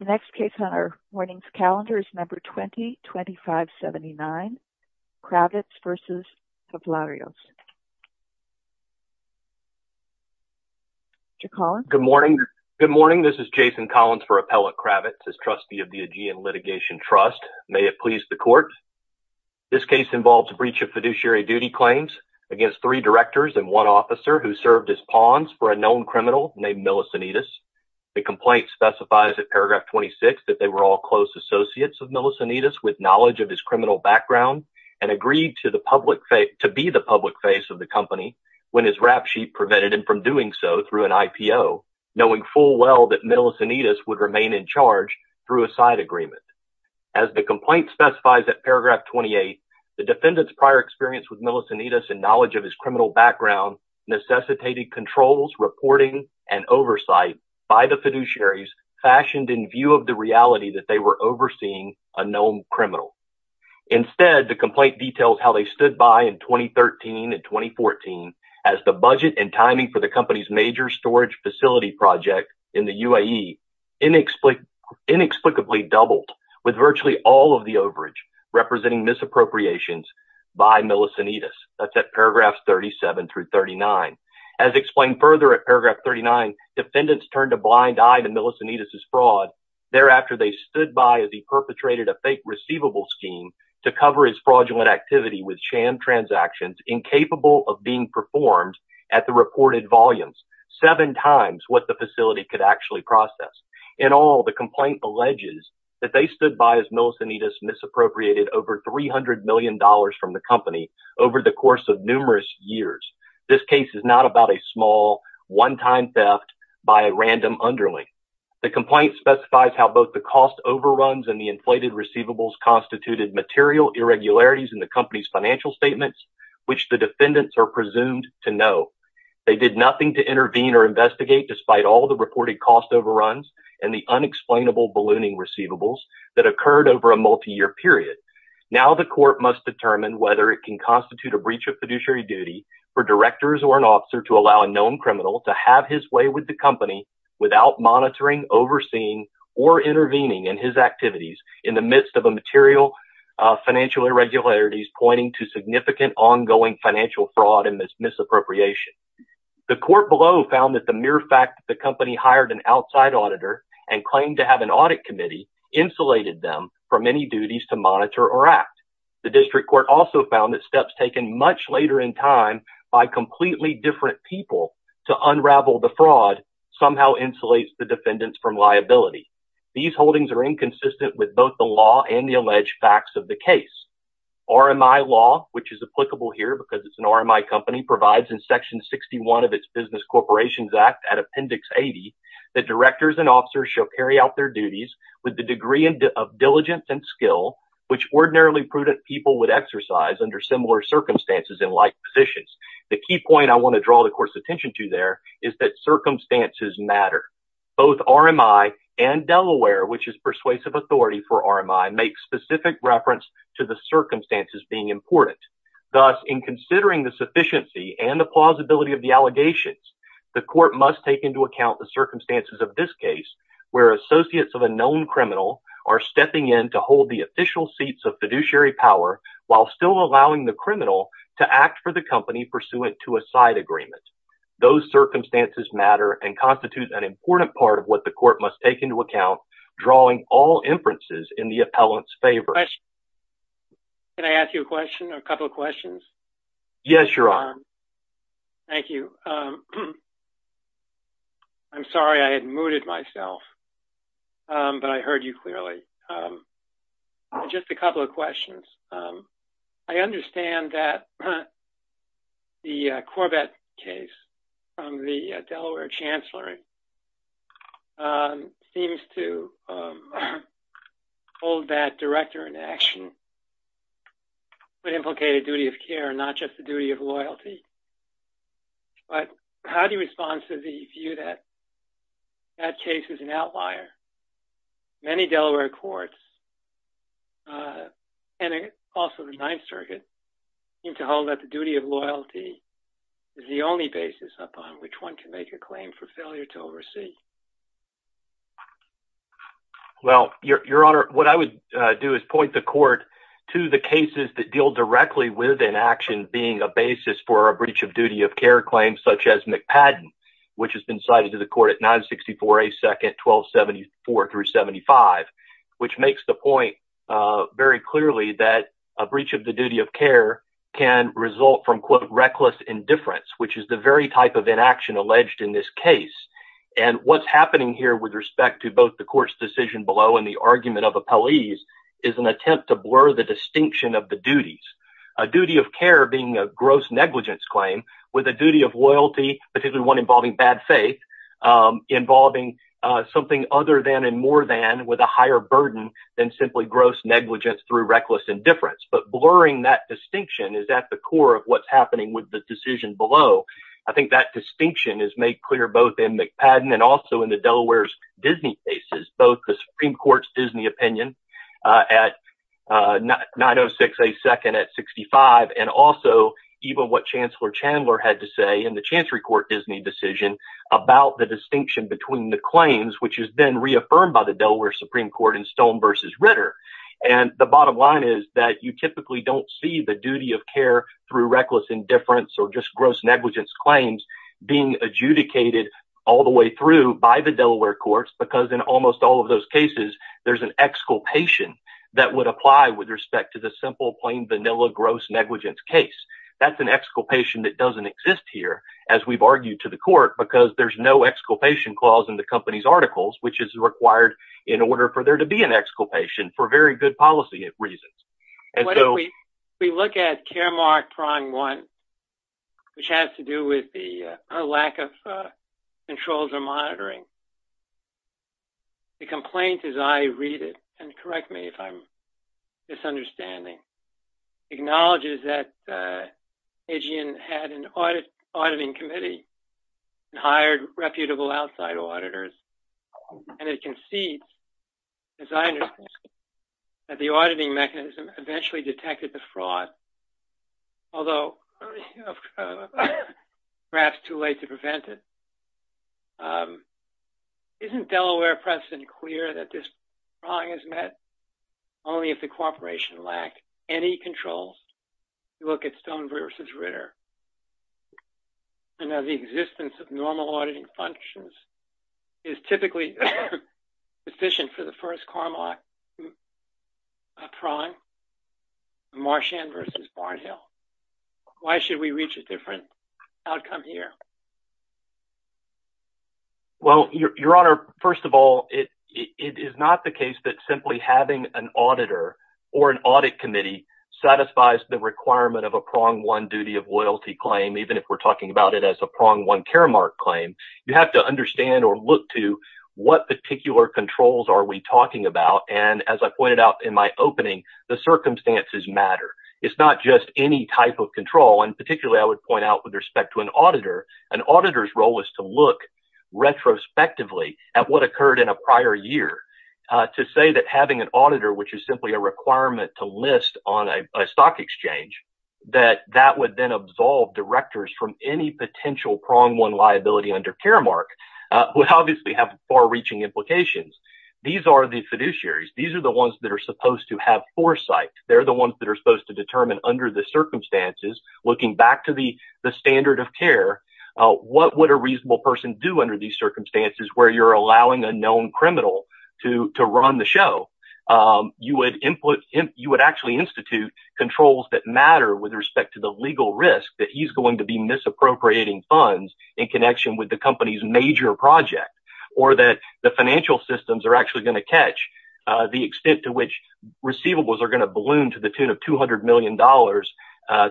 The next case on our morning's calendar is number 20-2579, Kravitz v. Tavlarios. Mr. Collins. Good morning. Good morning. This is Jason Collins for Appellate Kravitz, as trustee of the Aegean Litigation Trust. May it please the court. This case involves a breach of fiduciary duty claims against three directors and one officer who served as pawns for a known criminal named Millicentitis. The complaint specifies at paragraph 26 that they were all close associates of Millicentitis with knowledge of his criminal background and agreed to be the public face of the company when his rap sheet prevented him from doing so through an IPO, knowing full well that Millicentitis would remain in charge through a side agreement. As the complaint specifies at paragraph 28, the defendant's prior experience with Millicentitis and knowledge of his criminal background necessitated controls, reporting, and oversight by the fiduciaries fashioned in view of the reality that they were overseeing a known criminal. Instead, the complaint details how they stood by in 2013 and 2014 as the budget and timing for the company's major storage facility project in the UAE inexplicably doubled with virtually all of the overage representing misappropriations by Millicentitis. That's at paragraphs 37 through 39. As explained further at paragraph 39, defendants turned a blind eye to Millicentitis' fraud. Thereafter, they stood by as he perpetrated a fake receivable scheme to cover his fraudulent activity with sham transactions incapable of being performed at the reported volumes, seven times what the facility could actually process. In all, the complaint alleges that they stood by as Millicentitis misappropriated over $300 million from the company over the course of numerous years. This case is not about a small one-time theft by a random underling. The complaint specifies how both the cost overruns and the inflated receivables constituted material irregularities in the company's financial statements. Which the defendants are presumed to know. They did nothing to intervene or investigate despite all the reported cost overruns and the unexplainable ballooning receivables that occurred over a multi-year period. Now the court must determine whether it can constitute a breach of fiduciary duty for directors or an officer to allow a known criminal to have his way with the company without monitoring, overseeing, or intervening in his activities in the midst of a material financial irregularities pointing to significant ongoing financial fraud and misappropriation. The court below found that the mere fact that the company hired an outside auditor and claimed to have an audit committee insulated them from any duties to monitor or act. The district court also found that steps taken much later in time by completely different people to unravel the fraud somehow insulates the defendants from liability. These holdings are inconsistent with both the law and the alleged facts of the case. RMI law, which is applicable here because it's an RMI company, provides in Section 61 of its Business Corporations Act at Appendix 80, that directors and officers shall carry out their duties with the degree of diligence and skill which ordinarily prudent people would exercise under similar circumstances in like positions. The key point I want to draw the court's attention to there is that circumstances matter. Both RMI and Delaware, which is persuasive authority for RMI, make specific reference to the circumstances being important. Thus, in considering the sufficiency and the plausibility of the allegations, the court must take into account the circumstances of this case where associates of a known criminal are stepping in to hold the official seats of fiduciary power while still allowing the criminal to act for the company pursuant to a side agreement. Those circumstances matter and constitute an important part of what the court must take into account, drawing all inferences in the appellant's favor. Can I ask you a question or a couple of questions? Yes, Your Honor. Thank you. I'm sorry I had mooted myself, but I heard you clearly. Just a couple of questions. I understand that the Corbett case from the Delaware Chancellery seems to hold that director in action, but implicate a duty of care and not just the duty of loyalty. But how do you respond to the view that that case is an outlier? Many Delaware courts, and also the Ninth Circuit, seem to hold that the duty of loyalty is the only basis upon which one can make a claim for failure to oversee. Well, Your Honor, what I would do is point the court to the cases that deal directly with inaction being a basis for a breach of duty of care claim such as McPadden, which has been cited to the court at 964A, 2nd, 1274-75, which makes the point very clearly that a breach of the duty of care can result from, quote, reckless indifference, which is the very type of inaction alleged in this case. And what's happening here with respect to both the court's decision below and the argument of appellees is an attempt to blur the distinction of the duties, a duty of care being a gross negligence claim with a duty of loyalty, particularly one involving bad faith, involving something other than and more than with a higher burden than simply gross negligence through reckless indifference. But blurring that distinction is at the core of what's happening with the decision below. I think that distinction is made clear both in McPadden and also in the Delaware's Disney cases, both the Supreme Court's Disney opinion at 906A, 2nd at 65, and also even what Chancellor Chandler had to say in the Chancery Court Disney decision about the distinction between the claims, which has been reaffirmed by the Delaware Supreme Court in Stone v. Ritter. And the bottom line is that you typically don't see the duty of care through reckless indifference or just gross negligence claims being adjudicated all the way through by the Delaware courts because in almost all of those cases there's an exculpation that would apply with respect to the simple plain vanilla gross negligence case. That's an exculpation that doesn't exist here, as we've argued to the court, because there's no exculpation clause in the company's articles, which is required in order for there to be an exculpation for very good policy reasons. If we look at Care Mark Prong 1, which has to do with the lack of controls or monitoring, the complaint as I read it, and correct me if I'm misunderstanding, acknowledges that Aegean had an auditing committee and hired reputable outside auditors, and it concedes, as I understand, that the auditing mechanism eventually detected the fraud, although perhaps too late to prevent it. Isn't Delaware precedent clear that this prong is met only if the corporation lacked any controls? If you look at Stone v. Ritter, the existence of normal auditing functions is typically sufficient for the first Care Mark Prong, Marchand v. Barnhill. Why should we reach a different outcome here? Well, Your Honor, first of all, it is not the case that simply having an auditor or an audit committee satisfies the requirement of a Prong 1 Duty of Loyalty claim, even if we're talking about it as a Prong 1 Care Mark claim. You have to understand or look to what particular controls are we talking about, and as I pointed out in my opening, the circumstances matter. It's not just any type of control, and particularly I would point out with respect to an auditor, an auditor's role is to look retrospectively at what occurred in a prior year, to say that having an auditor, which is simply a requirement to list on a stock exchange, that that would then absolve directors from any potential Prong 1 liability under Care Mark, would obviously have far-reaching implications. These are the fiduciaries. These are the ones that are supposed to have foresight. They're the ones that are supposed to determine under the circumstances, looking back to the standard of care, what would a reasonable person do under these circumstances where you're allowing a known criminal to run the show? You would actually institute controls that matter with respect to the legal risk that he's going to be misappropriating funds in connection with the company's major project, or that the financial systems are actually going to catch the extent to which receivables are going to balloon to the tune of $200 million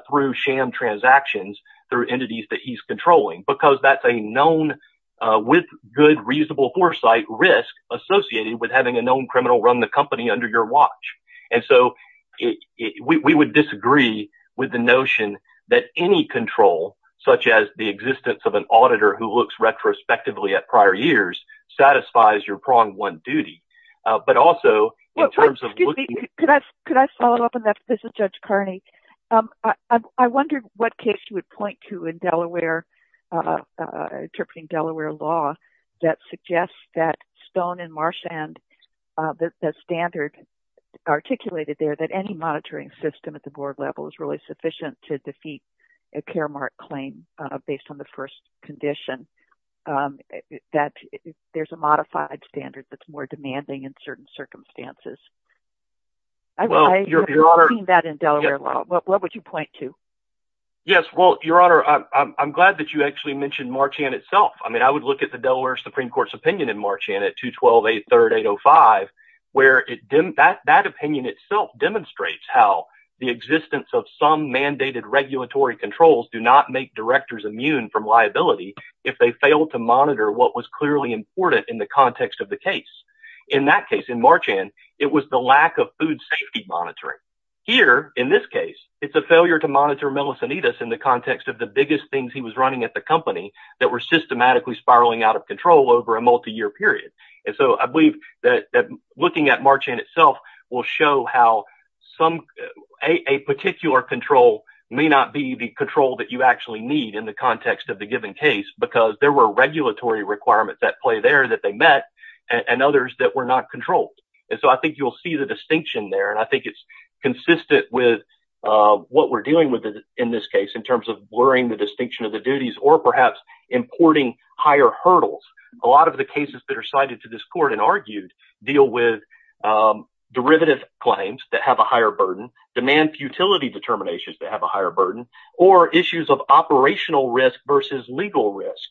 through sham transactions through entities that he's controlling, because that's a known, with good, reasonable foresight risk associated with having a known criminal run the company under your watch. We would disagree with the notion that any control, such as the existence of an auditor who looks retrospectively at prior years, satisfies your Prong 1 duty. Excuse me, could I follow up on that? This is Judge Carney. I wondered what case you would point to in Delaware, interpreting Delaware law, that suggests that Stone and Marshand, that standard articulated there, that any monitoring system at the board level is really sufficient to defeat a care mark claim based on the first condition, that there's a modified standard that's more demanding in certain circumstances. I've seen that in Delaware law. What would you point to? Yes, well, Your Honor, I'm glad that you actually mentioned Marchand itself. I mean, I would look at the Delaware Supreme Court's opinion in Marchand at 212.83.805, where that opinion itself demonstrates how the existence of some mandated regulatory controls do not make directors immune from liability if they fail to monitor what was clearly important in the context of the case. In that case, in Marchand, it was the lack of food safety monitoring. Here, in this case, it's a failure to monitor mellicinitis in the context of the biggest things he was running at the company that were systematically spiraling out of control over a multi-year period. And so I believe that looking at Marchand itself will show how a particular control may not be the control that you actually need in the context of the given case because there were regulatory requirements at play there that they met and others that were not controlled. And so I think you'll see the distinction there, and I think it's consistent with what we're dealing with in this case in terms of blurring the distinction of the duties or perhaps importing higher hurdles. A lot of the cases that are cited to this court and argued deal with derivative claims that have a higher burden, demand futility determinations that have a higher burden, or issues of operational risk versus legal risk,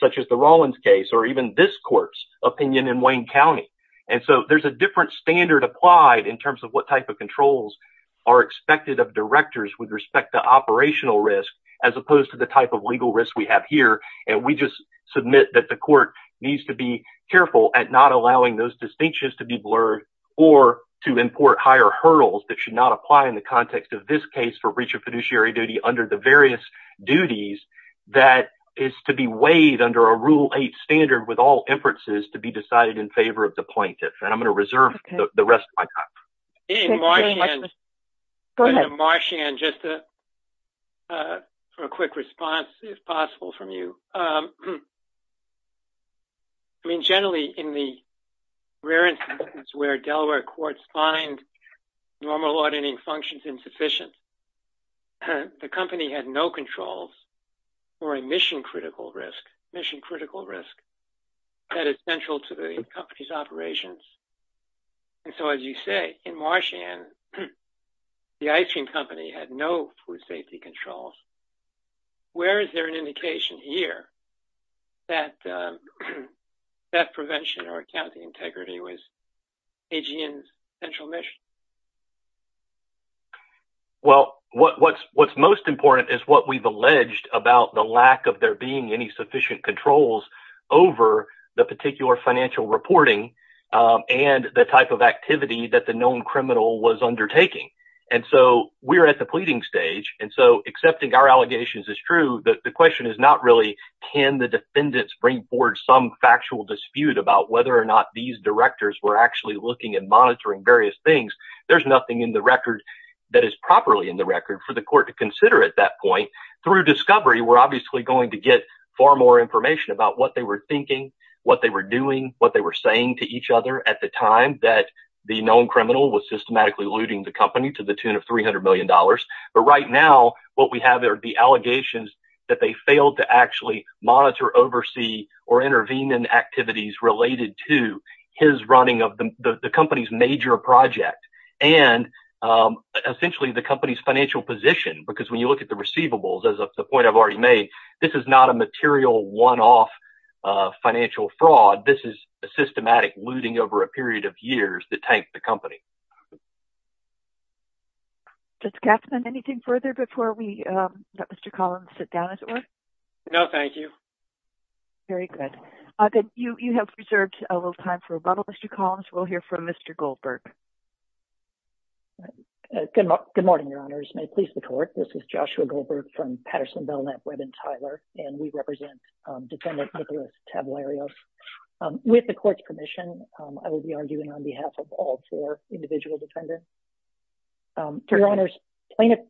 such as the Rawlins case or even this court's opinion in Wayne County. And so there's a different standard applied in terms of what type of controls are expected of directors with respect to operational risk as opposed to the type of legal risk we have here. And we just submit that the court needs to be careful at not allowing those distinctions to be blurred or to import higher hurdles that should not apply in the context of this case for breach of fiduciary duty under the various duties that is to be weighed under a Rule 8 standard with all inferences to be decided in favor of the plaintiff. And I'm going to reserve the rest of my time. Go ahead. Just a quick response, if possible, from you. I mean, generally, in the rare instances where Delaware courts find normal auditing functions insufficient, the company had no controls for a mission-critical risk that is central to the company's operations. And so, as you say, in Washington, the ice cream company had no food safety controls. Where is there an indication here that theft prevention or accounting integrity was AGN's central mission? Well, what's most important is what we've alleged about the lack of there being any sufficient controls over the particular financial reporting and the type of activity that the known criminal was undertaking. And so we're at the pleading stage. And so accepting our allegations is true. The question is not really can the defendants bring forward some factual dispute about whether or not these directors were actually looking and monitoring various things. There's nothing in the record that is properly in the record for the court to consider at that point. Through discovery, we're obviously going to get far more information about what they were thinking, what they were doing, what they were saying to each other at the time that the known criminal was systematically looting the company to the tune of $300 million. But right now, what we have are the allegations that they failed to actually monitor, oversee, or intervene in activities related to his running of the company's major project and essentially the company's financial position, because when you look at the receivables, as a point I've already made, this is not a material one-off financial fraud. This is a systematic looting over a period of years that tanked the company. Judge Gatzman, anything further before we let Mr. Collins sit down as it were? No, thank you. Very good. You have preserved a little time for rebuttal, Mr. Collins. We'll hear from Mr. Goldberg. Good morning, Your Honors. May it please the Court, this is Joshua Goldberg from Patterson, Belknap, Webb & Tyler, and we represent Defendant Nicholas Tavlarios. With the Court's permission, I will be arguing on behalf of all four individual defendants. Your Honors, plaintiff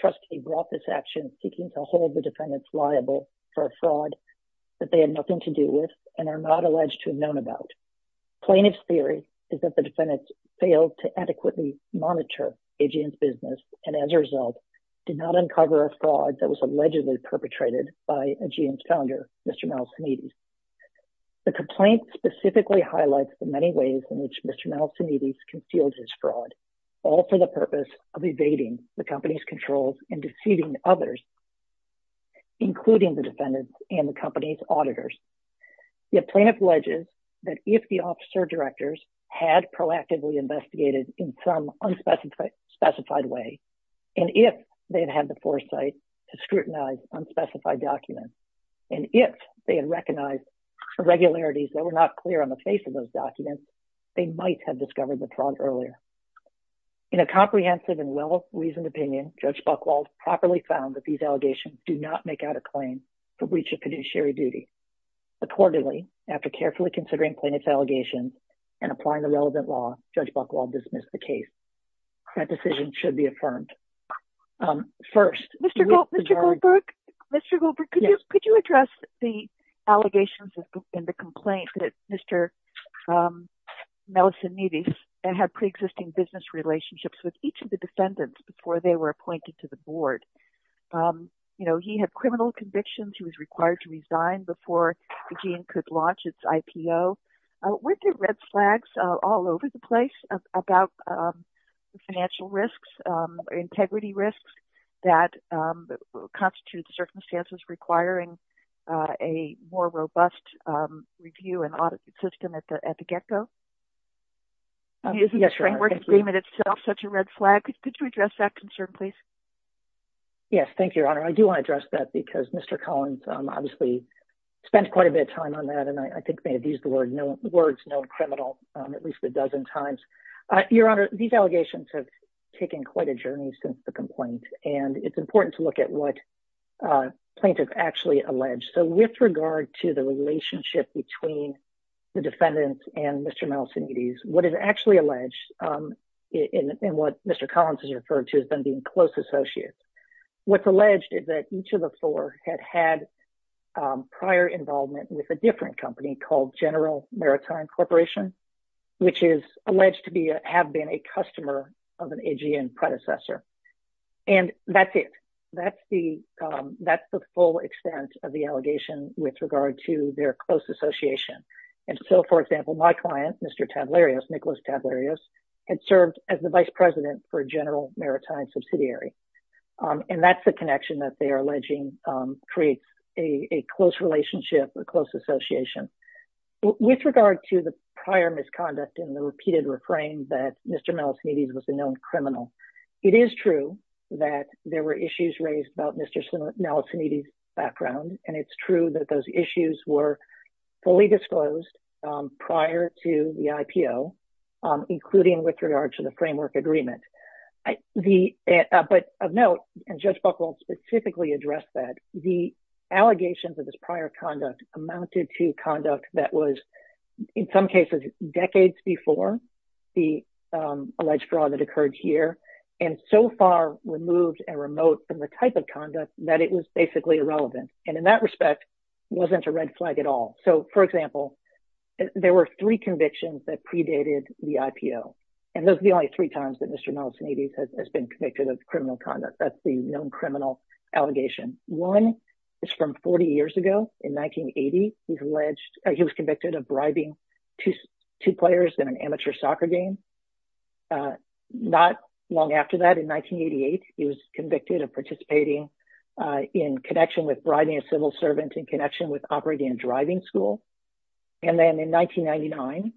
trustee brought this action seeking to hold the defendants liable for a fraud that they had nothing to do with and are not alleged to have known about. Plaintiff's theory is that the defendants failed to adequately monitor AGM's business and, as a result, did not uncover a fraud that was allegedly perpetrated by AGM's founder, Mr. Malcinides. The complaint specifically highlights the many ways in which Mr. Malcinides concealed his fraud, all for the purpose of evading the company's controls and deceiving others, including the defendants and the company's auditors. The plaintiff alleges that if the officer directors had proactively investigated in some unspecified way and if they had had the foresight to scrutinize unspecified documents and if they had recognized irregularities that were not clear on the face of those documents, they might have discovered the fraud earlier. In a comprehensive and well-reasoned opinion, Judge Buchwald properly found that these allegations do not make out a claim for breach of fiduciary duty. Accordingly, after carefully considering plaintiff's allegations and applying the relevant law, Judge Buchwald dismissed the case. That decision should be affirmed. First, Mr. Goldberg, could you address the allegations in the complaint that Mr. Malcinides had pre-existing business relationships with each of the defendants before they were appointed to the board? You know, he had criminal convictions. He was required to resign before the dean could launch its IPO. Weren't there red flags all over the place about financial risks, integrity risks, that constitute circumstances requiring a more robust review and audit system at the get-go? Isn't the framework agreement itself such a red flag? Could you address that concern, please? Yes, thank you, Your Honor. I do want to address that because Mr. Collins obviously spent quite a bit of time on that and I think may have used the words known criminal at least a dozen times. Your Honor, these allegations have taken quite a journey since the complaint and it's important to look at what plaintiffs actually allege. With regard to the relationship between the defendants and Mr. Malcinides, what is actually alleged in what Mr. Collins has referred to as being close associates, what's alleged is that each of the four had had prior involvement with a different company called General Maritime Corporation, which is alleged to have been a customer of an AGM predecessor. And that's it. That's the full extent of the allegation with regard to their close association. And so, for example, my client, Mr. Tablerios, Nicholas Tablerios, had served as the vice president for General Maritime Subsidiary. And that's the connection that they are alleging creates a close relationship, a close association. With regard to the prior misconduct and the repeated refrain that Mr. Malcinides was a known criminal, it is true that there were issues raised about Mr. Malcinides' background. And it's true that those issues were fully disclosed prior to the IPO, including with regard to the framework agreement. But of note, and Judge Buchwald specifically addressed that, the allegations of this prior conduct amounted to conduct that was, in some cases, decades before the alleged fraud that occurred here, and so far removed and remote from the type of conduct that it was basically irrelevant. And in that respect, wasn't a red flag at all. So, for example, there were three convictions that predated the IPO. And those were the only three times that Mr. Malcinides has been convicted of criminal conduct. That's the known criminal allegation. One is from 40 years ago in 1980. He was convicted of bribing two players in an amateur soccer game. Not long after that, in 1988, he was convicted of participating in connection with bribing a civil servant in connection with operating a driving school. And then in 1999,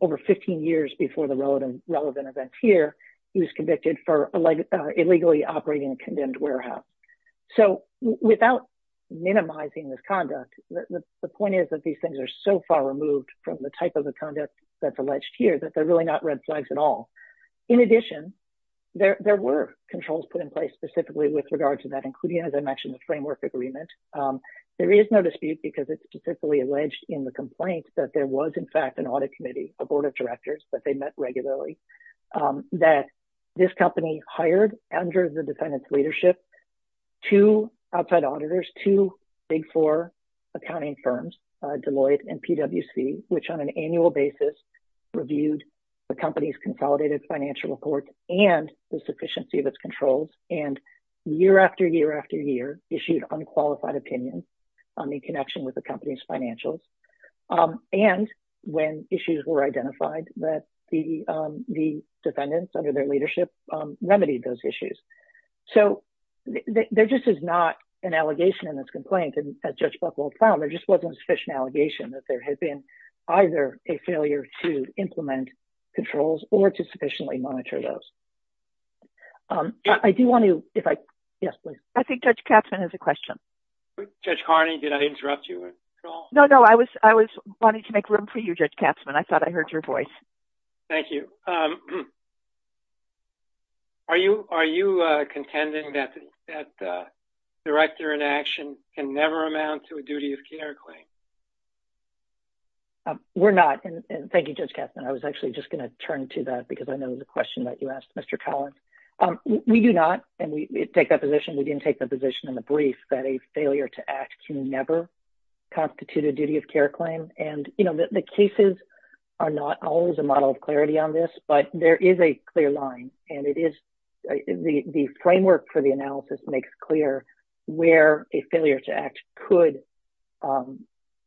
over 15 years before the relevant event here, he was convicted for illegally operating a condemned warehouse. So, without minimizing this conduct, the point is that these things are so far removed from the type of the conduct that's alleged here that they're really not red flags at all. In addition, there were controls put in place specifically with regard to that, including, as I mentioned, the framework agreement. There is no dispute because it's specifically alleged in the complaint that there was, in fact, an audit committee, a board of directors that they met regularly, that this company hired, under the defendant's leadership, two outside auditors, two big four accounting firms, Deloitte and PwC, which on an annual basis reviewed the company's consolidated financial report and the sufficiency of its controls, and year after year after year issued unqualified opinions in connection with the company's financials. And when issues were identified, the defendants, under their leadership, remedied those issues. So, there just is not an allegation in this complaint, as Judge Buchwald found. There just wasn't a sufficient allegation that there had been either a failure to implement controls or to sufficiently monitor those. I do want to, if I... Yes, please. I think Judge Katzman has a question. Judge Carney, did I interrupt you at all? No, no, I was wanting to make room for you, Judge Katzman. I thought I heard your voice. Thank you. Are you contending that director inaction can never amount to a duty of care claim? We're not, and thank you, Judge Katzman. I was actually just going to turn to that because I know the question that you asked, Mr. Collins. We do not, and we take that position. We didn't take the position in the brief that a failure to act can never constitute a duty of care claim. And, you know, the cases are not always a model of clarity on this, but there is a clear line, and it is the framework for the analysis makes clear where a failure to act could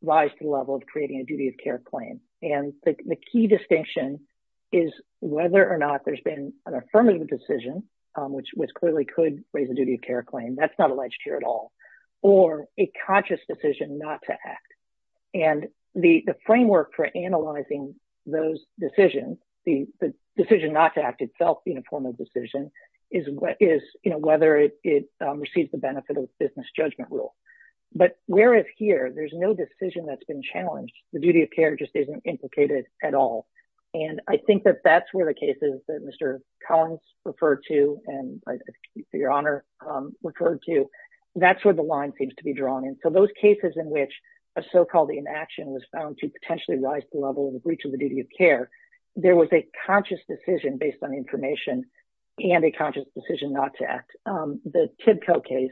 rise to the level of creating a duty of care claim. And the key distinction is whether or not there's been an affirmative decision, which clearly could raise a duty of care claim. That's not alleged here at all. Or a conscious decision not to act. And the framework for analyzing those decisions, the decision not to act itself being a formal decision, is whether it receives the benefit of the business judgment rule. But whereas here, there's no decision that's been challenged. The duty of care just isn't implicated at all. And I think that that's where the cases that Mr. Collins referred to and, for your honor, referred to, that's where the line seems to be drawn in. So those cases in which a so-called inaction was found to potentially rise to the level of the breach of the duty of care, there was a conscious decision based on information and a conscious decision not to act. The TIBCO case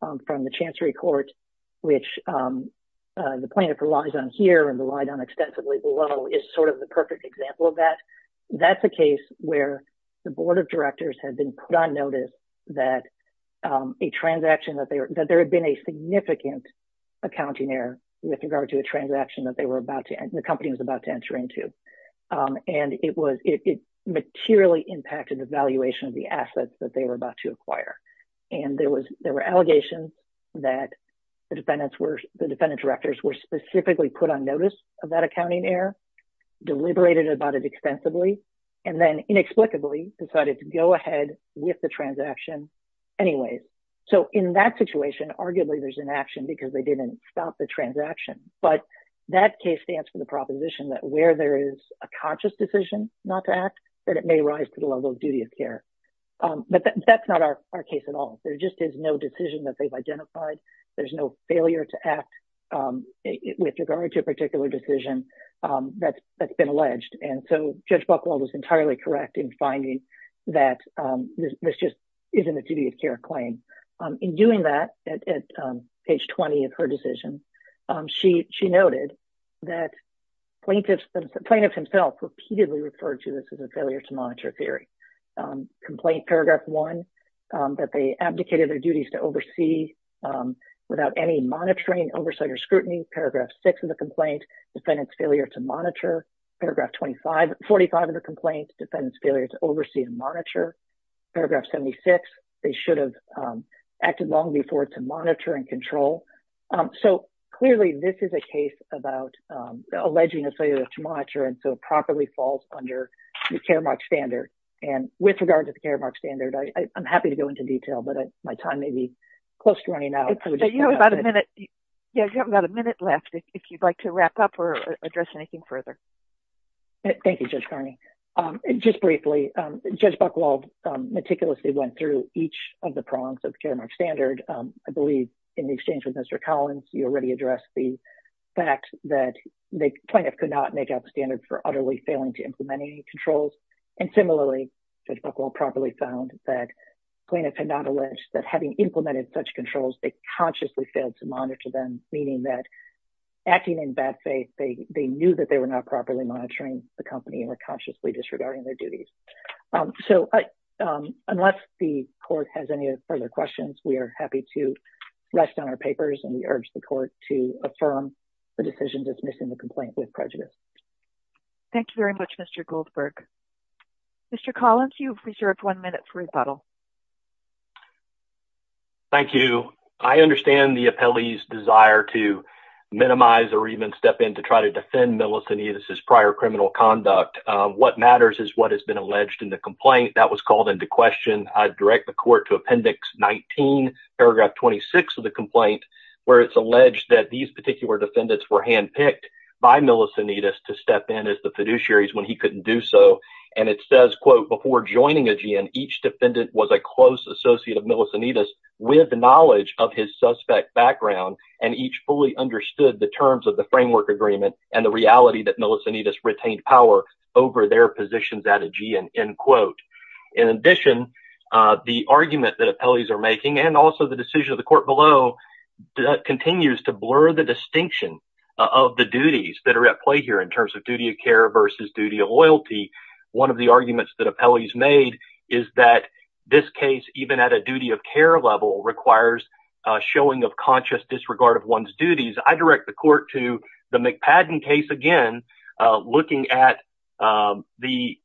from the Chancery Court, which the plaintiff relies on here and relied on extensively below, is sort of the perfect example of that. That's a case where the board of directors had been put on notice that there had been a significant accounting error with regard to a transaction that the company was about to enter into. And it materially impacted the valuation of the assets that they were about to acquire. And there were allegations that the defendant's directors were specifically put on notice of that accounting error, deliberated about it extensively, and then inexplicably decided to go ahead with the transaction anyways. So in that situation, arguably, there's inaction because they didn't stop the transaction. But that case stands for the proposition that where there is a conscious decision not to act, that it may rise to the level of duty of care. But that's not our case at all. There just is no decision that they've identified. There's no failure to act with regard to a particular decision that's been alleged. And so Judge Buchwald was entirely correct in finding that this just isn't a duty of care claim. In doing that, at page 20 of her decision, she noted that plaintiffs themselves repeatedly referred to this as a failure to monitor theory. Complaint paragraph 1, that they abdicated their duties to oversee without any monitoring, oversight, or scrutiny. Paragraph 6 of the complaint, defendant's failure to monitor. Paragraph 45 of the complaint, defendant's failure to oversee and monitor. Paragraph 76, they should have acted long before to monitor and control. So clearly, this is a case about alleging a failure to monitor, and so it properly falls under the care mark standard. And with regard to the care mark standard, I'm happy to go into detail, but my time may be close to running out. You have about a minute. You have about a minute left if you'd like to wrap up or address anything further. Thank you, Judge Kearney. Just briefly, Judge Buchwald meticulously went through each of the prongs of the care mark standard. I believe in the exchange with Mr. Collins, you already addressed the fact that the plaintiff could not make out the standard for utterly failing to implement any controls. And similarly, Judge Buchwald properly found that plaintiffs had not alleged that having implemented such controls, they consciously failed to monitor them, meaning that acting in bad faith, they knew that they were not properly monitoring the company and were consciously disregarding their duties. So unless the court has any further questions, we are happy to rest on our papers, and we urge the court to affirm the decision dismissing the complaint with prejudice. Thank you very much, Mr. Goldberg. Mr. Collins, you've reserved one minute for rebuttal. Thank you. So I understand the appellee's desire to minimize or even step in to try to defend Melissinides' prior criminal conduct. What matters is what has been alleged in the complaint. That was called into question. I'd direct the court to Appendix 19, Paragraph 26 of the complaint, where it's alleged that these particular defendants were handpicked by Melissinides to step in as the fiduciaries when he couldn't do so. And it says, quote, before joining Aegean, each defendant was a close associate of Melissinides with knowledge of his suspect background, and each fully understood the terms of the framework agreement and the reality that Melissinides retained power over their positions at Aegean, end quote. In addition, the argument that appellees are making and also the decision of the court below continues to blur the distinction of the duties that are at play here in terms of duty of care versus duty of loyalty. One of the arguments that appellees made is that this case, even at a duty of care level, requires a showing of conscious disregard of one's duties. I direct the court to the McPadden case again, looking at the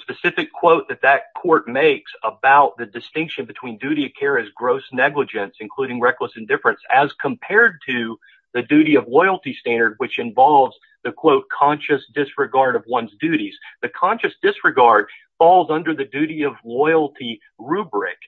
specific quote that that court makes about the distinction between duty of care as gross negligence, including reckless indifference, as compared to the duty of loyalty standard, which involves the, quote, conscious disregard of one's duties. The conscious disregard falls under the duty of loyalty rubric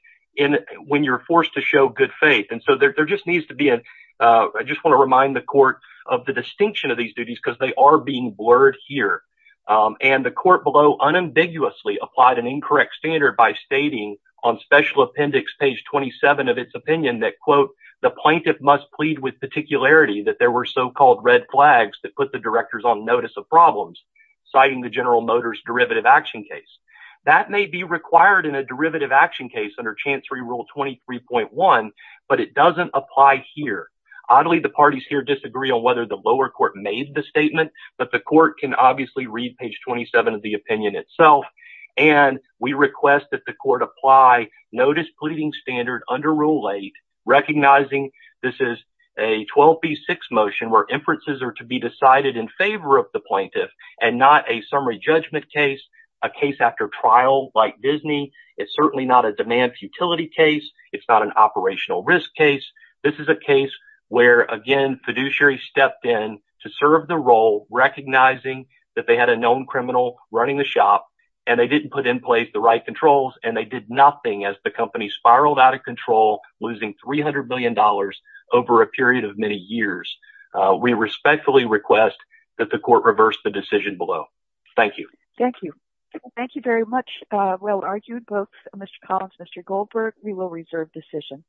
when you're forced to show good faith. And so there just needs to be a, I just want to remind the court of the distinction of these duties because they are being blurred here. And the court below unambiguously applied an incorrect standard by stating on special appendix page 27 of its opinion that, quote, the plaintiff must plead with particularity that there were so-called red flags that put the directors on notice of problems, citing the General Motors derivative action case. That may be required in a derivative action case under Chancery Rule 23.1, but it doesn't apply here. Oddly, the parties here disagree on whether the lower court made the statement, but the court can obviously read page 27 of the opinion itself. And we request that the court apply notice pleading standard under Rule 8, recognizing this is a 12B6 motion where inferences are to be decided in favor of the plaintiff and not a summary judgment case, a case after trial like Disney. It's certainly not a demand futility case. It's not an operational risk case. This is a case where, again, fiduciary stepped in to serve the role, recognizing that they had a known criminal running the shop, and they didn't put in place the right controls, and they did nothing as the company spiraled out of control, losing $300 billion over a period of many years. We respectfully request that the court reverse the decision below. Thank you. Thank you. Thank you very much. Well argued both Mr. Collins and Mr. Goldberg. We will reserve decision.